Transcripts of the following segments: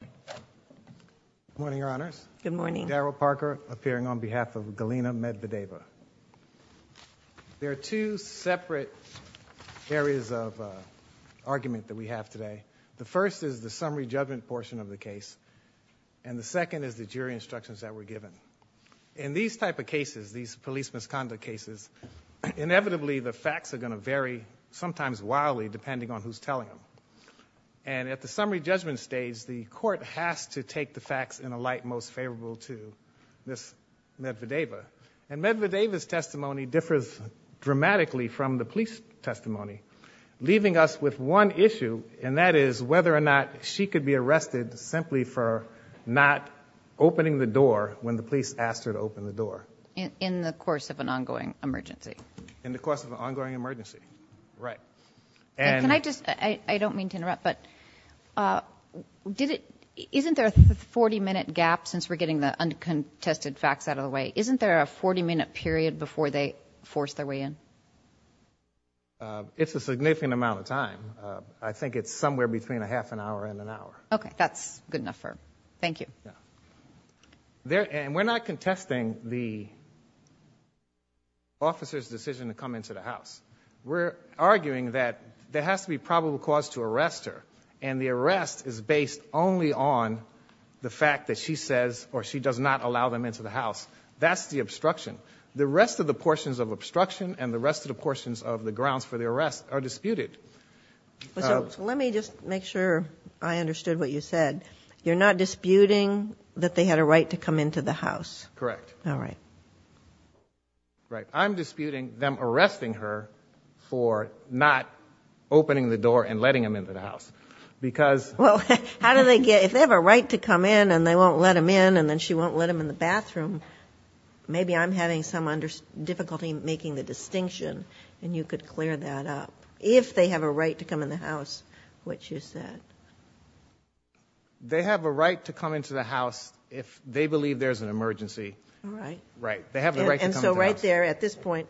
Good morning, Your Honors. Good morning. Daryl Parker appearing on behalf of Galina Medvedeva. There are two separate areas of argument that we have today. The first is the summary judgment portion of the case, and the second is the jury instructions that were given. In these type of cases, these police misconduct cases, inevitably the facts are going to vary, sometimes wildly, depending on who's telling them. And at the summary judgment stage, the court has to take the facts in a light most favorable to Ms. Medvedeva. And Medvedeva's testimony differs dramatically from the police testimony, leaving us with one issue, and that is whether or not she could be arrested simply for not opening the door when the police asked her to open the door. In the course of an ongoing emergency. In the course of an ongoing emergency, right. And I just, I don't mean to interrupt, but did it, isn't there a 40-minute gap since we're getting the uncontested facts out of the way? Isn't there a 40-minute period before they force their way in? It's a significant amount of time. I think it's somewhere between a half an hour and an hour. Okay, that's good enough for, thank you. There, and we're not contesting the officer's decision to come into the house. We're arguing that there has to be probable cause to arrest her, and the arrest is based only on the fact that she says, or she does not allow them into the house. That's the obstruction. The rest of the portions of obstruction and the rest of the portions of the grounds for the arrest are disputed. Let me just make sure I understood what you said. You're not disputing that they had a right to come into the house? Correct. All right. Right, I'm disputing them arresting her for not opening the door and letting them into the house. Because well, how do they get, if they have a right to come in and they won't let him in and then she won't let him in the bathroom, maybe I'm having some under, difficulty making the distinction and you could clear that up. If they have a right to come in the house, what you said. They have a right to come into the house if they believe there's an emergency. All right. Right, they have the right. And so right there at this point,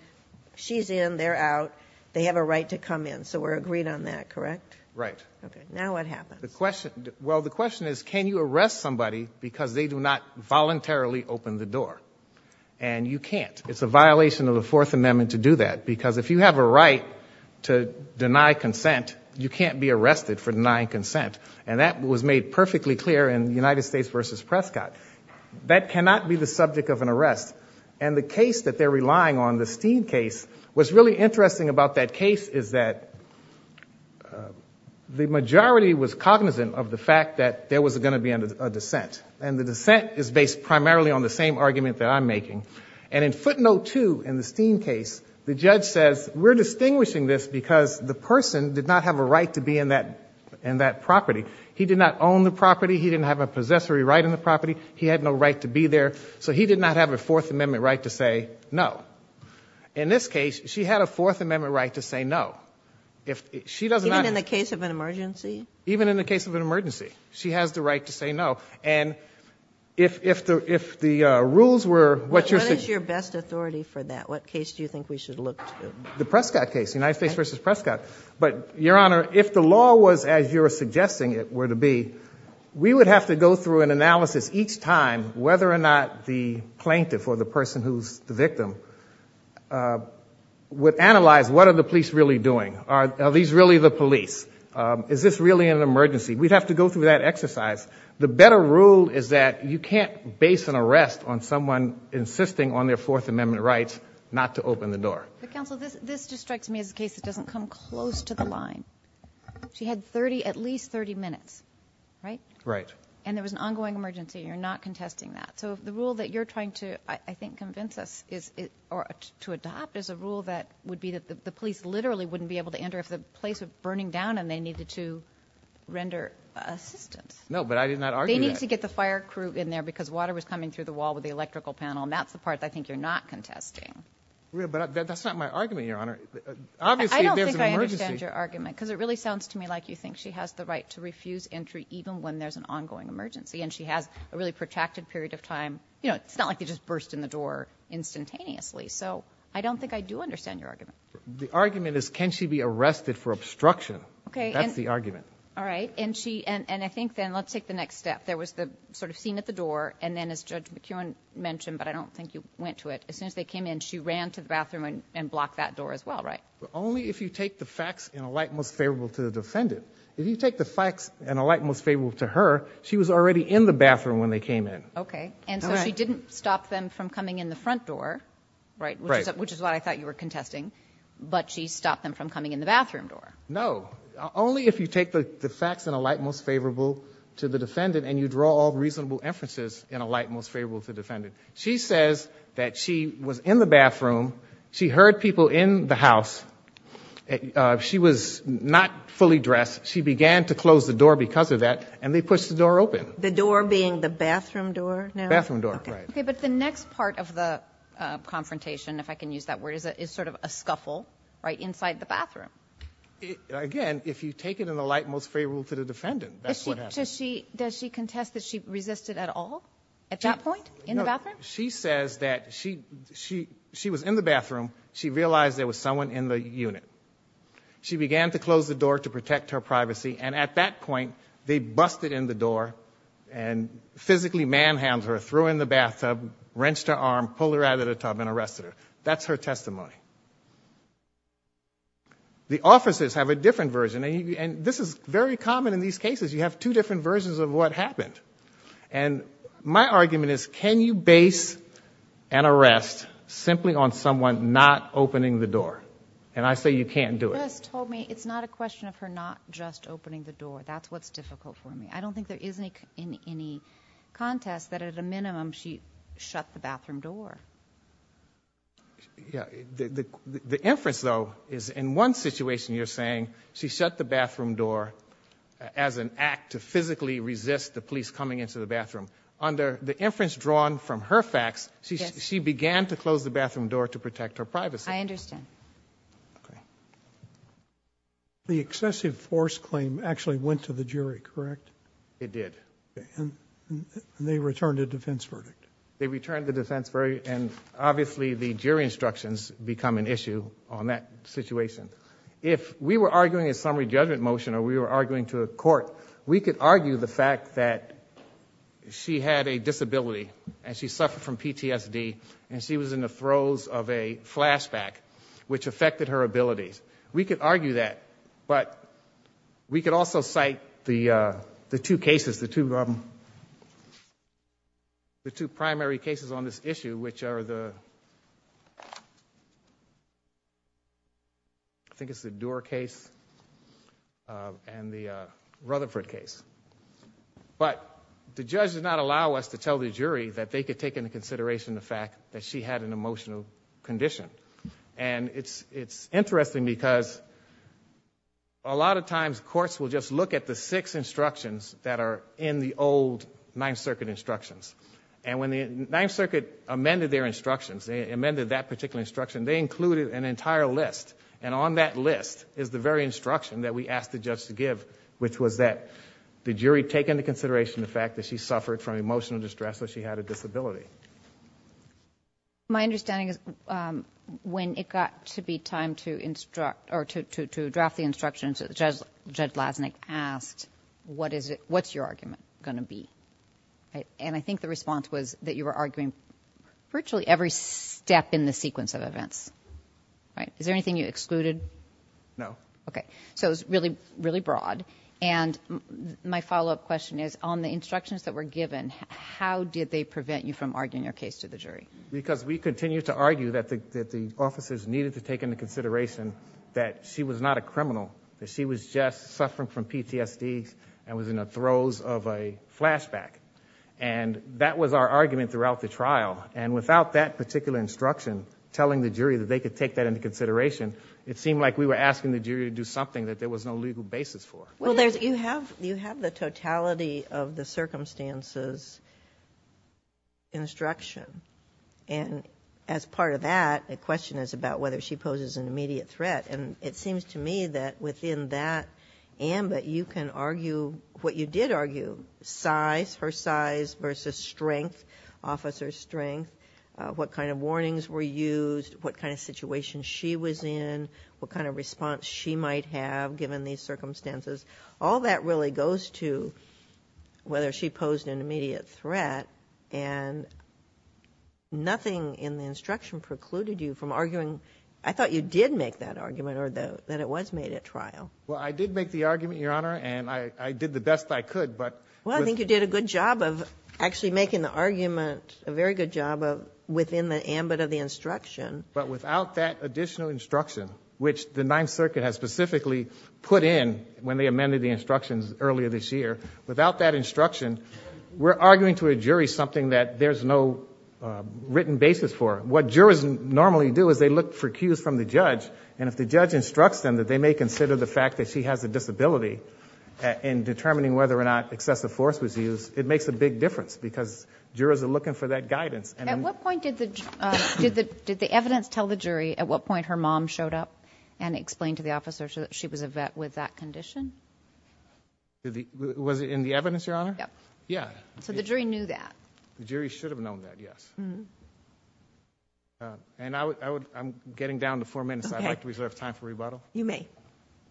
she's in, they're out, they have a right to come in. So we're agreed on that, correct? Right. Okay, now what happens? The question, well the question is, can you arrest somebody because they do not voluntarily open the door? And you can't. It's a violation of the Fourth Amendment to do that. Because if you have a right to deny consent, you can't be arrested for denying consent. And that was made perfectly clear in United States versus Prescott. That cannot be the subject of an arrest. And the case that they're relying on, the Steen case, what's really interesting about that case is that the majority was cognizant of the fact that there was going to be a dissent. And the dissent is based primarily on the same argument that I'm making. And in footnote 2 in the Steen case, the judge says, we're distinguishing this because the person did not have a right to be in that property. He did not own the property. He didn't have a possessory right in the property. He had no right to be there. So he did not have a Fourth Amendment right to say no. In this case, she had a Fourth Amendment right to say no. Even in the case of an emergency? Even in the case of an emergency, she has the right to say no. And if the law was, as you're suggesting it were to be, we would have to go through an analysis each time whether or not the plaintiff or the person who's the victim would analyze what are the police really doing? Are these really the police? Is this really an emergency? We'd have to go through that exercise. The better rule is that you can't base an arrest on someone insisting on their Fourth Amendment rights not to open the door. But counsel, this just strikes me as a case that doesn't come close to the line. She had 30, at least 30 minutes, right? Right. And there was an ongoing emergency. You're not contesting that. So the rule that you're trying to, I think, convince us is, or to adopt, is a rule that would be that the police literally wouldn't be able to enter if the place was burning down and they needed to render assistance. No, but I did not argue that. They need to get the fire crew in there because water was coming through the wall with the electrical panel. And that's the part I think you're not contesting. But that's not my argument, Your Honor. Obviously, there's an emergency. I don't think I understand your argument because it really sounds to me like you think she has the right to refuse entry even when there's an ongoing emergency. And she has a really protracted period of time. You know, it's not like they just burst in the door instantaneously. So I don't think I do understand your argument. The argument is can she be arrested for obstruction? Okay. That's the argument. All right. And she, and I think then let's take the next step. There was the sort of scene at the door and then as Judge McKeown mentioned, but I don't think you went to it, as soon as they came in, she ran to the bathroom and blocked that door as well, right? Only if you take the facts in a light most favorable to the defendant. If you take the facts in a light most favorable to her, she was already in the bathroom when they came in. Okay. And so she didn't stop them from coming in the front door, right? Right. Which is what I thought you were contesting. But she stopped them from coming in the bathroom door. No. Only if you take the facts in a light most favorable to the defendant and you draw all reasonable inferences in a light most favorable to the defendant. She says that she was in the bathroom, she heard people in the house, she was not fully dressed, she began to close the door because of that, and they pushed the door open. The door being the bathroom door now? Bathroom door, right. Okay, but the next part of the confrontation, if I can use that word, is it is sort of a scuffle, right, inside the bathroom. Again, if you take it in the light most favorable to the defendant, that's what she, does she contest that she resisted at all at that point, in the bathroom? She says that she, she, she was in the bathroom, she realized there was someone in the unit. She began to close the door to protect her privacy, and at that point they busted in the door and physically manhandled her, threw her in the bathtub, wrenched her arm, pulled her out of the tub, and arrested her. That's her testimony. The officers have a different version, and this is very common in these cases. You have two different versions of what happened, and my argument is, can you base an arrest simply on someone not opening the door? And I say you can't do it. Chris told me it's not a question of her not just opening the door. That's what's difficult for me. I don't think there is any, any contest that at a minimum she shut the bathroom door. Yeah, the, the, the inference, though, is in one situation you're saying she shut the bathroom door as an act to physically resist the police coming into the bathroom. Under the inference drawn from her facts, she, she began to close the bathroom door to protect her privacy. I understand. Okay. The excessive force claim actually went to the jury, correct? It did. And they returned a defense verdict. They returned the defense verdict, and obviously the jury instructions become an issue on that situation. If we were arguing a summary judgment motion or we were arguing to a court, we could argue the fact that she had a disability and she suffered from PTSD and she was in the throes of a flashback, which affected her abilities. We could argue that, but we could also cite the, the two cases, the two, the two primary cases on this issue, which are the, I think it's the Doer case and the Rutherford case. But the judge did not allow us to tell the jury that they could take into consideration the fact that she had an emotional condition. And it's, it's interesting because a lot of times courts will just look at the six instructions that are in the old Ninth Circuit instructions. And when the Ninth Circuit amended their instructions, they amended that particular instruction, they included an entire list. And on that list is the very instruction that we asked the judge to give, which was that the jury take into consideration the fact that she suffered from emotional distress or she had a disability. My understanding is when it got to be time to instruct or to, to, to draft the instructions, the judge, Judge Lasnik asked, what is it, what's your argument going to be? And I think the response was that you were arguing virtually every step in the sequence of events, right? Is there anything you excluded? No. Okay. So it was really, really broad. And my follow-up question is on the instructions that were given, how did they prevent you from arguing your case to the jury? Because we continued to argue that the, that the officers needed to take into consideration that she was not a criminal, that she was just suffering from PTSD and was in the throes of a flashback. And that was our argument throughout the trial. And without that particular instruction telling the jury that they could take that into consideration, it seemed like we were asking the jury to do something that there was no legal basis for. Well, there's, you have, you have the totality of the circumstances instruction. And as part of that, the question is about whether she poses an immediate threat. And it seems to me that within that ambit, you can argue what you did argue, size, her size versus strength, officer strength, what kind of warnings were used, what kind of situation she was in, what kind of response she might have given these circumstances. All that really goes to whether she posed an immediate threat. And nothing in the instruction precluded you from arguing — I thought you did make that argument, or that it was made at trial. Well, I did make the argument, Your Honor, and I did the best I could, but — Well, I think you did a good job of actually making the argument, a very good job of — within the ambit of the instruction. But without that additional instruction, which the Ninth Circuit has specifically put in when they amended the instructions earlier this year, without that instruction, we're arguing to a jury something that there's no written basis for. What jurors normally do is they look for cues from the judge, and if the judge instructs them that they may consider the fact that she has a disability in determining whether or not excessive force was used, it makes a big difference, because jurors are looking for that guidance. At what point did the evidence tell the jury at what point her mom showed up and explained to the officer that she was a vet with that condition? Was it in the evidence, Your Honor? Yep. Yeah. So the jury knew that. The jury should have known that, yes. And I'm getting down to four minutes, so I'd like to reserve time for rebuttal. You may.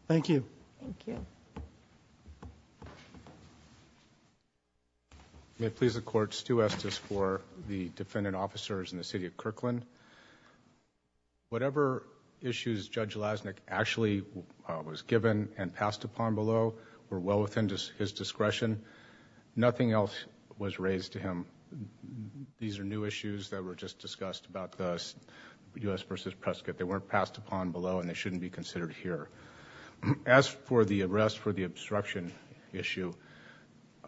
Thank you. Thank you. May it please the Court, Stu Estes for the defendant officers in the City of Kirkland. Whatever issues Judge Lasnik actually was given and passed upon below were well within his discretion. Nothing else was raised to him. These are new issues that were just discussed about the U.S. v. Prescott. They weren't passed upon below, and they shouldn't be considered here. As for the arrest for the obstruction issue,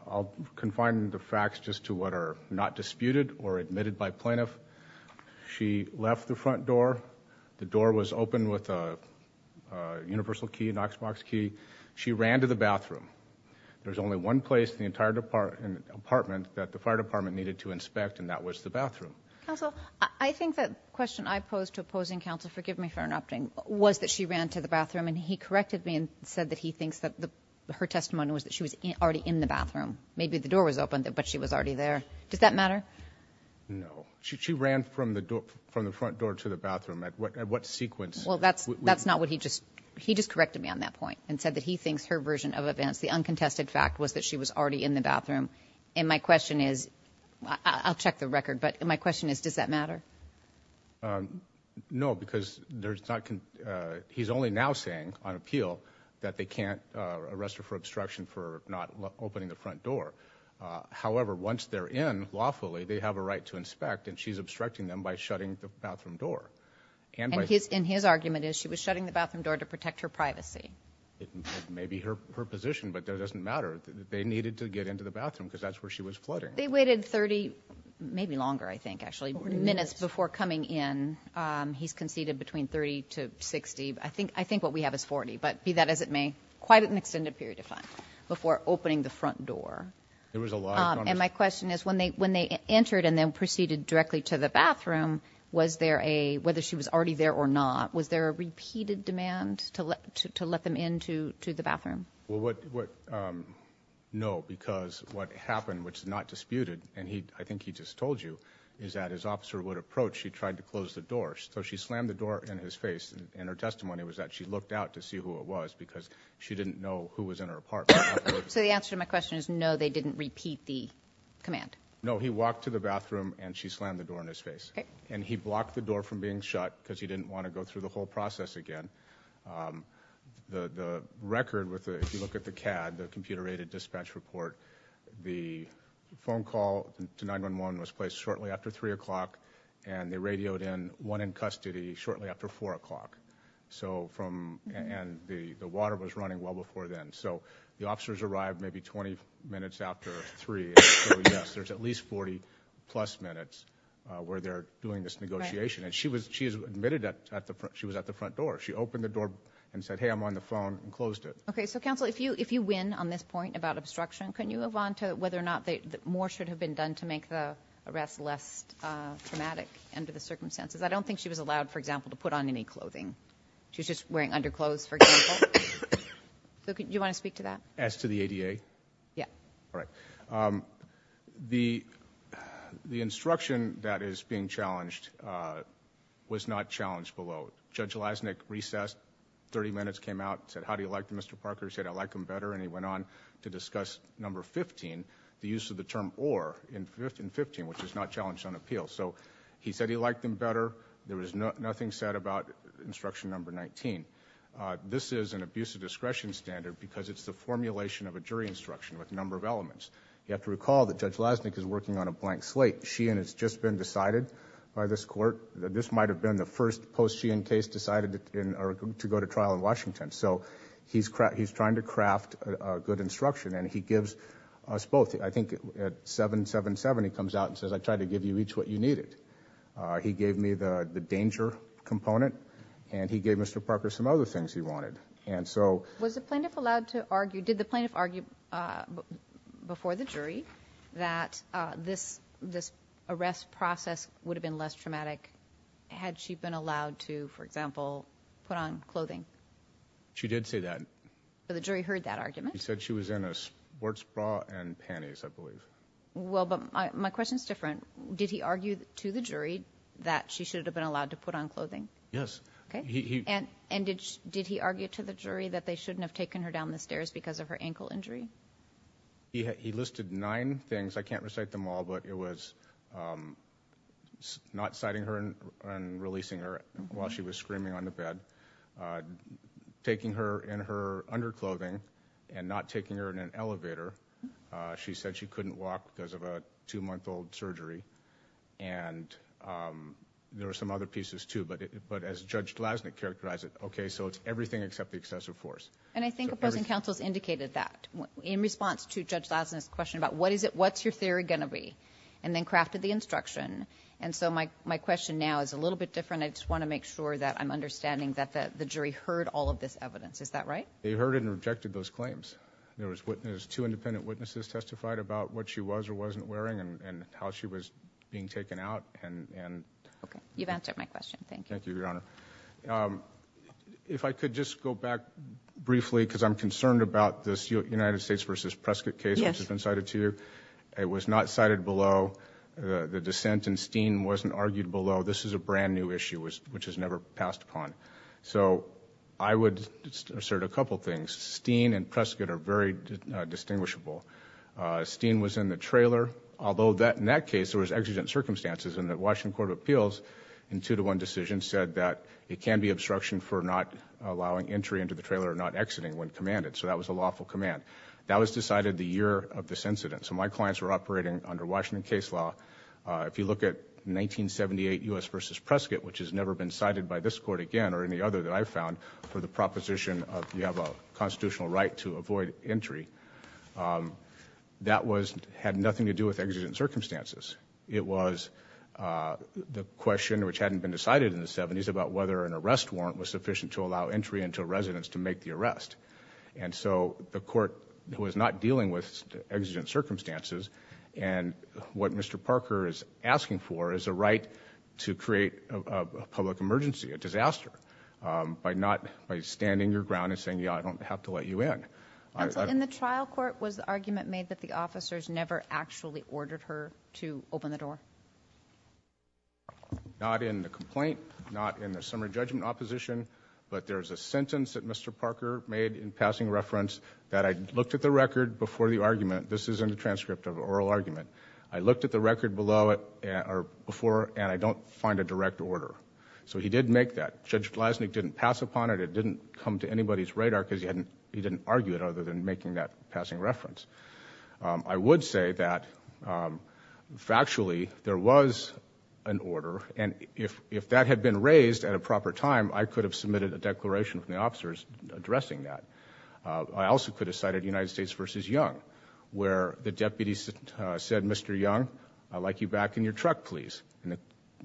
I'll confine the facts just to what are not disputed or admitted by plaintiff. She left the front door. The door was open with a universal key, a Knoxbox key. She ran to the bathroom. There's only one place in the entire apartment that the fire department needed to inspect, and that was the bathroom. Counsel, I think that question I posed to opposing counsel, forgive me for interrupting, was that she ran to the bathroom, and he corrected me and said that he thinks that her testimony was that she was already in the bathroom. Maybe the door was open, but she was already there. Does that matter? No. She ran from the front door to the bathroom. What sequence? Well, that's not what he just, he just corrected me on that point and said that he thinks her version of events, the uncontested fact, was that she was already in the bathroom. And my question is, I'll check the record, but my question is, does that matter? No, because there's not, he's only now saying on appeal that they can't arrest her for obstruction for not opening the front door. However, once they're in, lawfully, they have a right to inspect, and she's obstructing them by shutting the bathroom door. And his argument is she was shutting the bathroom door to protect her privacy. Maybe her position, but that doesn't matter. They needed to get into the bathroom, because that's where she was flooding. They waited 30, maybe longer, I think, actually, minutes before coming in. He's conceded between 30 to 60. I think what we have is 40, but be that as it may, quite an extended period of time before opening the front door. And my question is, when they entered and then proceeded directly to the bathroom, was there a, whether she was already there or not, was there a repeated demand to let them into the bathroom? Well, no, because what happened, which is not disputed, and I think he just told you, is that his officer would approach, she tried to close the door. So she slammed the door in his face, and her testimony was that she looked out to see who it was, because she didn't know who was in her apartment afterwards. So the answer to my question is no, they didn't repeat the command. No, he walked to the bathroom, and she slammed the door in his face. Okay. And he blocked the door from being shut, because he didn't want to go through the whole process again. The record, if you look at the CAD, the computer-aided dispatch report, the phone call to 911 was placed shortly after 3 o'clock, and they radioed in one in custody shortly after 4 o'clock. So from, and the water was running well before then. So the officers arrived maybe 20 minutes after 3, so yes, there's at least 40 plus minutes where they're doing this negotiation. And she was admitted at the front door. She opened the door and said, hey, I'm on the phone, and closed it. Okay, so counsel, if you win on this point about obstruction, can you move on to whether or not more should have been done to make the arrest less traumatic under the circumstances? I don't think she was allowed, for example, to put on any clothing. She was just wearing underclothes, for example. Do you want to speak to that? As to the ADA? Yeah. All right, the instruction that is being challenged was not challenged below. Judge Lasnik recessed, 30 minutes came out, said, how do you like Mr. Parker? He said, I like him better. And he went on to discuss number 15, the use of the term or in 15, which is not challenged on appeal. So he said he liked him better. There was nothing said about instruction number 19. This is an abuse of discretion standard because it's the formulation of a jury instruction with a number of elements. You have to recall that Judge Lasnik is working on a blank slate. Sheehan has just been decided by this court. This might have been the first post-Sheehan case decided to go to trial in Washington. So he's trying to craft a good instruction, and he gives us both. I think at 777, he comes out and says, I tried to give you each what you needed. He gave me the danger component, and he gave Mr. Parker some other things he wanted. And so- Was the plaintiff allowed to argue, did the plaintiff argue before the jury that this arrest process would have been less traumatic? Had she been allowed to, for example, put on clothing? But the jury heard that argument? He said she was in a sports bra and panties, I believe. Well, but my question's different. Did he argue to the jury that she should have been allowed to put on clothing? Yes. And did he argue to the jury that they shouldn't have taken her down the stairs because of her ankle injury? He listed nine things. I can't recite them all, but it was not citing her and releasing her while she was screaming on the bed, taking her in her under clothing. And not taking her in an elevator. She said she couldn't walk because of a two-month-old surgery. And there were some other pieces too, but as Judge Glasnick characterized it, okay, so it's everything except the excessive force. And I think the present counsel's indicated that. In response to Judge Glasnick's question about what's your theory going to be, and then crafted the instruction. And so my question now is a little bit different. I just want to make sure that I'm understanding that the jury heard all of this evidence. Is that right? They heard it and rejected those claims. There was two independent witnesses testified about what she was or wasn't wearing and how she was being taken out and- Okay, you've answered my question, thank you. Thank you, Your Honor. If I could just go back briefly because I'm concerned about this United States versus Prescott case which has been cited to you. It was not cited below the dissent and Steen wasn't argued below. This is a brand new issue which has never passed upon. So I would assert a couple things. Steen and Prescott are very distinguishable. Steen was in the trailer, although in that case there was exigent circumstances and the Washington Court of Appeals in two to one decision said that it can be obstruction for not allowing entry into the trailer or not exiting when commanded, so that was a lawful command. That was decided the year of this incident. So my clients were operating under Washington case law. If you look at 1978 US versus Prescott, which has never been cited by this court again or any other that I've found for the proposition of you have a constitutional right to avoid entry. That had nothing to do with exigent circumstances. It was the question which hadn't been decided in the 70s about whether an arrest warrant was sufficient to allow entry into a residence to make the arrest. And so the court was not dealing with exigent circumstances. And what Mr. Parker is asking for is a right to create a public emergency, a disaster, by standing your ground and saying, yeah, I don't have to let you in. And so in the trial court, was the argument made that the officers never actually ordered her to open the door? Not in the complaint, not in the summary judgment opposition, but there's a sentence that Mr. Parker made in passing reference that I looked at the record before the argument. This is in the transcript of oral argument. I looked at the record before and I don't find a direct order. So he did make that. Judge Glasnick didn't pass upon it. It didn't come to anybody's radar because he didn't argue it other than making that passing reference. I would say that factually, there was an order. And if that had been raised at a proper time, I could have submitted a declaration from the officers addressing that. I also could have cited United States versus Young, where the deputy said, Mr. Young, I'd like you back in your truck, please. And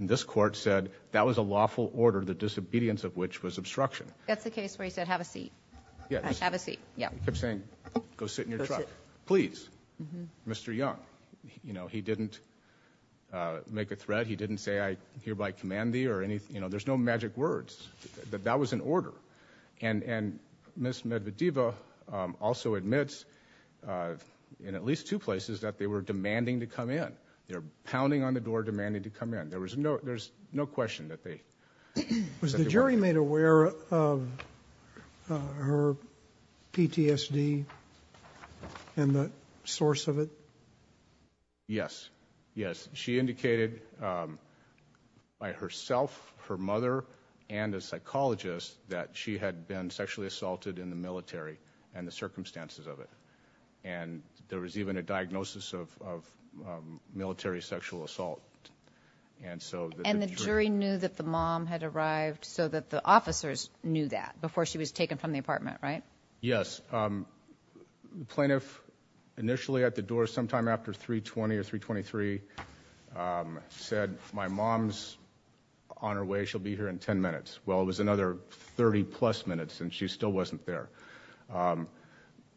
this court said, that was a lawful order, the disobedience of which was obstruction. That's the case where he said, have a seat. Yes. Have a seat. Yeah. He kept saying, go sit in your truck. Please. Mr. Young, he didn't make a threat. He didn't say, I hereby command thee or anything. There's no magic words. That was an order. And Ms. Medvedeva also admits, in at least two places, that they were demanding to come in. They're pounding on the door demanding to come in. There's no question that they- Was the jury made aware of her PTSD and the source of it? Yes. Yes, she indicated by herself, her mother, and a psychologist that she had been sexually assaulted in the military and the circumstances of it. And there was even a diagnosis of military sexual assault. And so- And the jury knew that the mom had arrived so that the officers knew that before she was taken from the apartment, right? Yes. The plaintiff initially at the door sometime after 3.20 or 3.23 said, my mom's on her way. She'll be here in ten minutes. Well, it was another 30 plus minutes and she still wasn't there.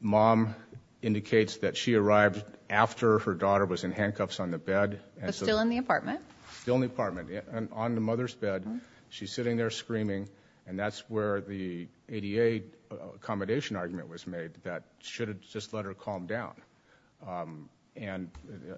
Mom indicates that she arrived after her daughter was in handcuffs on the bed. But still in the apartment? Still in the apartment, on the mother's bed. She's sitting there screaming and that's where the ADA accommodation argument was made that should have just let her calm down. And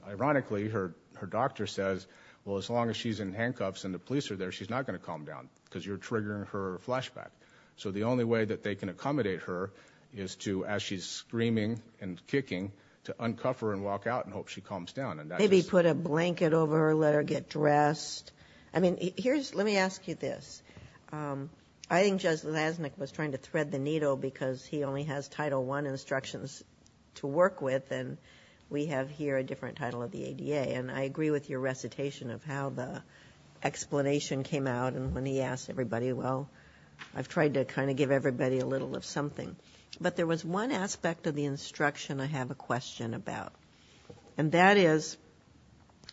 ironically, her doctor says, well, as long as she's in handcuffs and the police are there, she's not going to calm down because you're triggering her flashback. So the only way that they can accommodate her is to, as she's screaming and kicking, to uncuff her and walk out and hope she calms down. Maybe put a blanket over her, let her get dressed. I mean, let me ask you this. I think Judge Lasnik was trying to thread the needle because he only has Title I instructions to work with and we have here a different title of the ADA and I agree with your recitation of how the explanation came out. And when he asked everybody, well, I've tried to kind of give everybody a little of something. But there was one aspect of the instruction I have a question about. And that is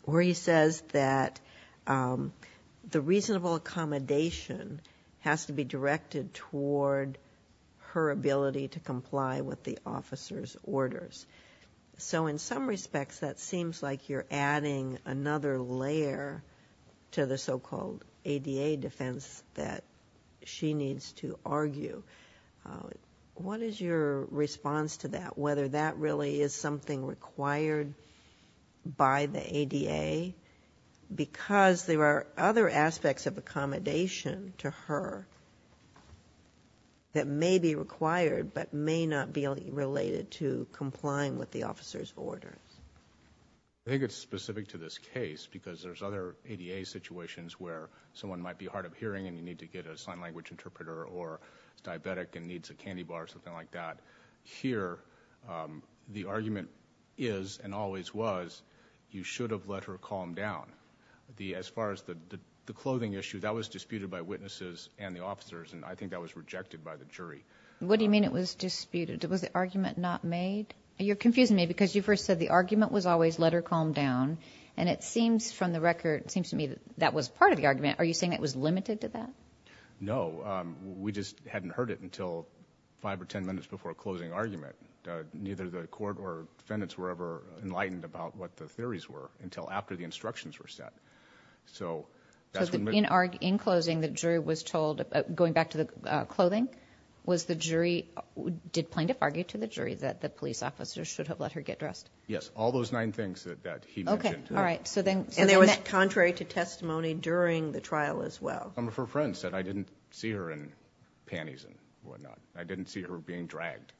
where he says that the reasonable accommodation has to be directed toward her ability to comply with the officer's orders. So in some respects, that seems like you're adding another layer to the so-called ADA defense that she needs to argue. What is your response to that? Whether that really is something required by the ADA? Because there are other aspects of accommodation to her that may be required, but may not be related to complying with the officer's orders. I think it's specific to this case because there's other ADA situations where someone might be hard of hearing and you need to get a sign language interpreter or diabetic and needs a candy bar or something like that. Here, the argument is and always was, you should have let her calm down. As far as the clothing issue, that was disputed by witnesses and the officers and I think that was rejected by the jury. What do you mean it was disputed? Was the argument not made? You're confusing me because you first said the argument was always let her calm down. And it seems from the record, it seems to me that that was part of the argument. Are you saying it was limited to that? No, we just hadn't heard it until five or ten minutes before a closing argument. Neither the court or defendants were ever enlightened about what the theories were until after the instructions were set. So, that's when- In closing, the jury was told, going back to the clothing, was the jury, did plaintiff argue to the jury that the police officer should have let her get dressed? Yes, all those nine things that he mentioned. Okay, all right, so then- And it was contrary to testimony during the trial as well. One of her friends said, I didn't see her in panties and whatnot. I didn't see her being dragged.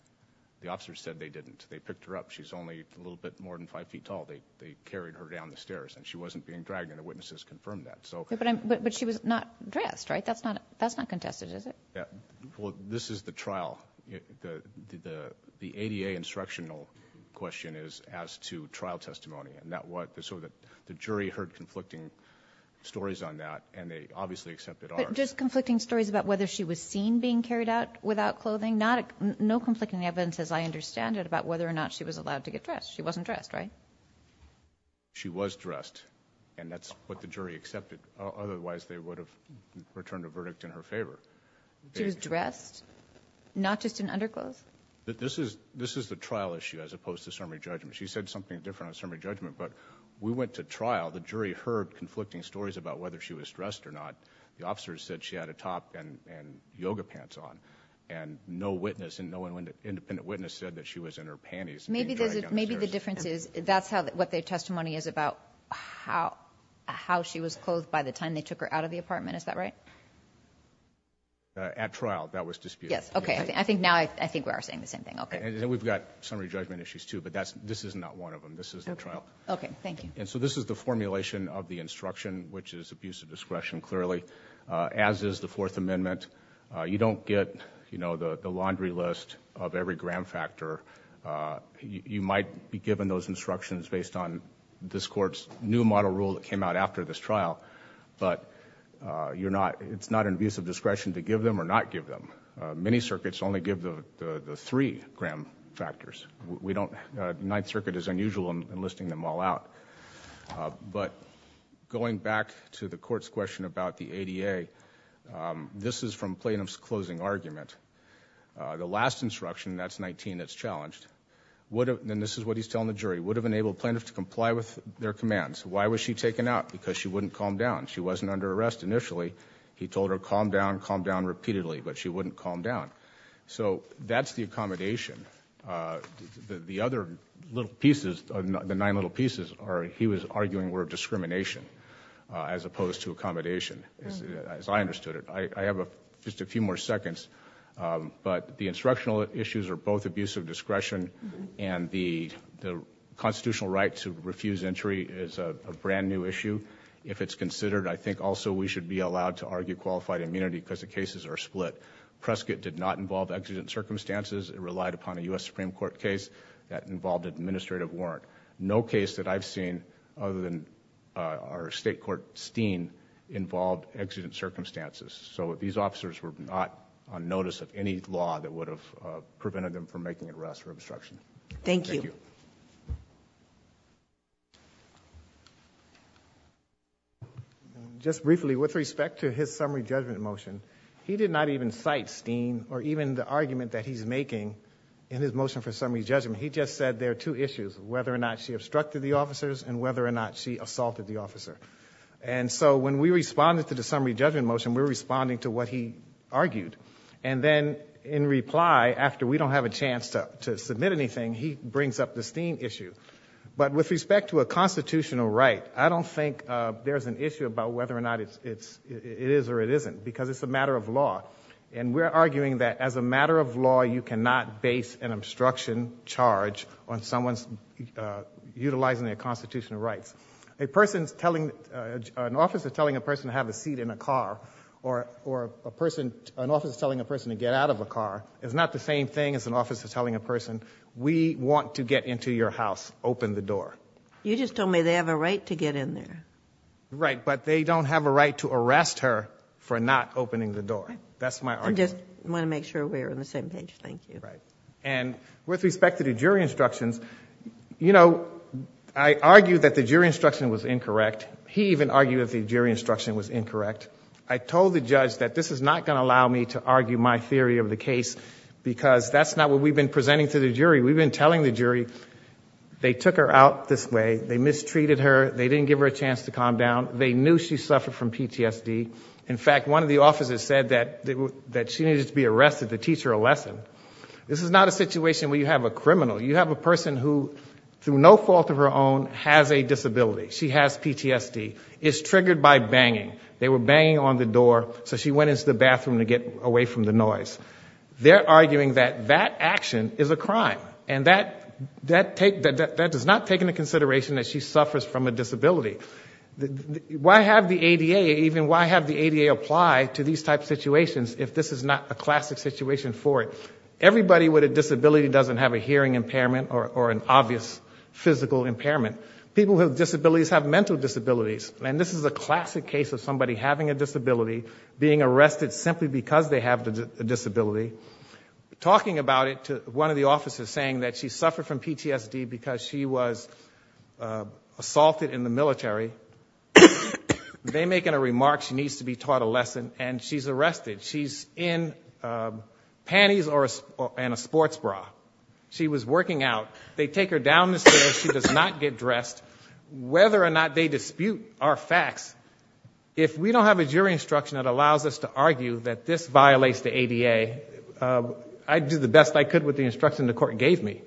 The officers said they didn't. They picked her up. She's only a little bit more than five feet tall. They carried her down the stairs and she wasn't being dragged and the witnesses confirmed that, so- But she was not dressed, right? That's not contested, is it? Yeah, well, this is the trial, the ADA instructional question is as to trial testimony. And that was, so the jury heard conflicting stories on that and they obviously accepted ours. But just conflicting stories about whether she was seen being carried out without clothing? No conflicting evidence as I understand it about whether or not she was allowed to get dressed. She wasn't dressed, right? She was dressed and that's what the jury accepted. Otherwise, they would have returned a verdict in her favor. She was dressed, not just in underclothes? This is the trial issue as opposed to summary judgment. She said something different on summary judgment, but we went to trial. The jury heard conflicting stories about whether she was dressed or not. The officers said she had a top and yoga pants on. And no independent witness said that she was in her panties. Maybe the difference is, that's what their testimony is about how she was clothed by the time they took her out of the apartment, is that right? At trial, that was disputed. Yes, okay, now I think we are saying the same thing, okay. And then we've got summary judgment issues too, but this is not one of them, this is the trial. Okay, thank you. And so this is the formulation of the instruction, which is abuse of discretion, clearly, as is the Fourth Amendment. You don't get the laundry list of every gram factor. You might be given those instructions based on this court's new model rule that came out after this trial. But it's not an abuse of discretion to give them or not give them. Many circuits only give the three gram factors. We don't, Ninth Circuit is unusual in listing them all out. But going back to the court's question about the ADA, this is from plaintiff's closing argument. The last instruction, that's 19, that's challenged, and this is what he's telling the jury, would have enabled plaintiffs to comply with their commands. Why was she taken out? Because she wouldn't calm down. She wasn't under arrest initially. He told her, calm down, calm down repeatedly, but she wouldn't calm down. So that's the accommodation. The other little pieces, the nine little pieces, he was arguing were discrimination as opposed to accommodation, as I understood it. I have just a few more seconds, but the instructional issues are both abuse of discretion and the constitutional right to refuse entry is a brand new issue. If it's considered, I think also we should be allowed to argue qualified immunity because the cases are split. Prescott did not involve exigent circumstances. It relied upon a US Supreme Court case that involved administrative warrant. No case that I've seen other than our state court Steen involved exigent circumstances. So these officers were not on notice of any law that would have prevented them from making an arrest or obstruction. Thank you. Just briefly, with respect to his summary judgment motion, he did not even cite Steen or even the argument that he's making in his motion for summary judgment. He just said there are two issues, whether or not she obstructed the officers and whether or not she assaulted the officer. And so when we responded to the summary judgment motion, we were responding to what he argued. And then in reply, after we don't have a chance to submit anything, he brings up the Steen issue. But with respect to a constitutional right, I don't think there's an issue about whether or not it is or it isn't, because it's a matter of law. And we're arguing that as a matter of law, you cannot base an obstruction charge on someone's utilizing their constitutional rights. An officer telling a person to have a seat in a car or an officer telling a person to get out of a car is not the same thing as an officer telling a person, we want to get into your house, open the door. You just told me they have a right to get in there. Right, but they don't have a right to arrest her for not opening the door. That's my argument. I just want to make sure we're on the same page, thank you. Right. And with respect to the jury instructions, I argued that the jury instruction was incorrect. He even argued that the jury instruction was incorrect. I told the judge that this is not going to allow me to argue my theory of the case, because that's not what we've been presenting to the jury. We've been telling the jury they took her out this way, they mistreated her, they didn't give her a chance to calm down. They knew she suffered from PTSD. In fact, one of the officers said that she needed to be arrested to teach her a lesson. This is not a situation where you have a criminal. You have a person who, through no fault of her own, has a disability. She has PTSD, is triggered by banging. They were banging on the door, so she went into the bathroom to get away from the noise. They're arguing that that action is a crime. And that does not take into consideration that she suffers from a disability. Why have the ADA, even why have the ADA apply to these type situations if this is not a classic situation for it? Everybody with a disability doesn't have a hearing impairment or an obvious physical impairment. People with disabilities have mental disabilities. And this is a classic case of somebody having a disability, being arrested simply because they have a disability. Talking about it to one of the officers saying that she suffered from PTSD because she was assaulted in the military. They make a remark, she needs to be taught a lesson, and she's arrested. She's in panties and a sports bra. She was working out. They take her down the stairs, she does not get dressed. Whether or not they dispute our facts, if we don't have a jury instruction that allows us to argue that this violates the ADA, I'd do the best I could with the instruction the court gave me.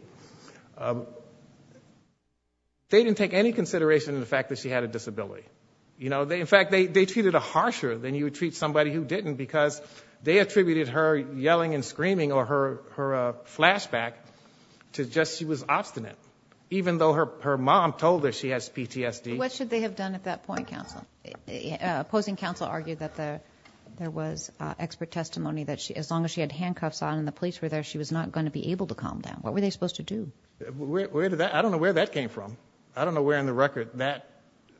They didn't take any consideration in the fact that she had a disability. In fact, they treated her harsher than you would treat somebody who didn't because they attributed her yelling and she was obstinate, even though her mom told her she has PTSD. What should they have done at that point, counsel? Opposing counsel argued that there was expert testimony that as long as she had handcuffs on and the police were there, she was not going to be able to calm down. What were they supposed to do? Where did that, I don't know where that came from. I don't know where in the record that-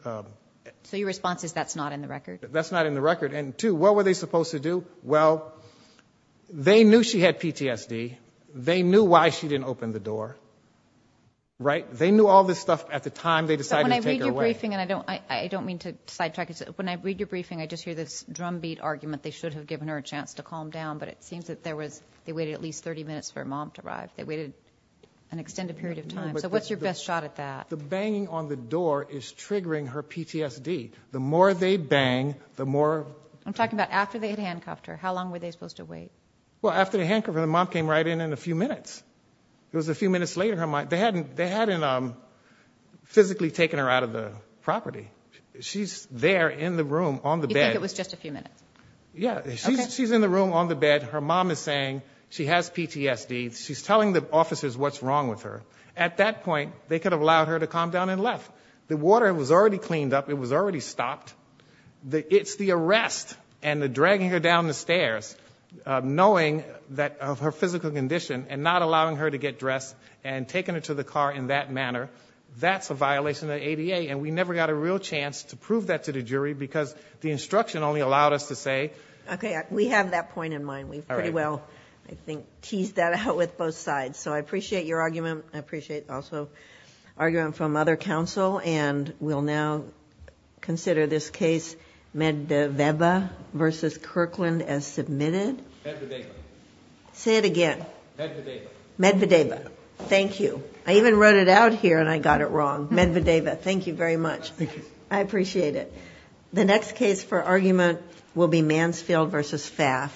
So your response is that's not in the record? That's not in the record. And two, what were they supposed to do? Well, they knew she had PTSD. They knew why she didn't open the door, right? They knew all this stuff at the time they decided to take her away. But when I read your briefing, and I don't mean to sidetrack, when I read your briefing, I just hear this drumbeat argument they should have given her a chance to calm down. But it seems that they waited at least 30 minutes for her mom to arrive. They waited an extended period of time. So what's your best shot at that? The banging on the door is triggering her PTSD. The more they bang, the more- I'm talking about after they had handcuffed her. How long were they supposed to wait? Well, after they handcuffed her, the mom came right in in a few minutes. It was a few minutes later. They hadn't physically taken her out of the property. She's there in the room on the bed. You think it was just a few minutes? Yeah, she's in the room on the bed. Her mom is saying she has PTSD. She's telling the officers what's wrong with her. At that point, they could have allowed her to calm down and left. The water was already cleaned up. It was already stopped. It's the arrest and the dragging her down the stairs, knowing that of her physical condition, and not allowing her to get dressed, and taking her to the car in that manner, that's a violation of the ADA. And we never got a real chance to prove that to the jury, because the instruction only allowed us to say- Okay, we have that point in mind. We've pretty well, I think, teased that out with both sides. So I appreciate your argument. I appreciate also argument from other counsel. And we'll now consider this case Medvedeva v. Kirkland as submitted. Medvedeva. Say it again. Medvedeva. Medvedeva. Thank you. I even wrote it out here, and I got it wrong. Medvedeva. Thank you very much. I appreciate it. The next case for argument will be Mansfield v. Pfaff.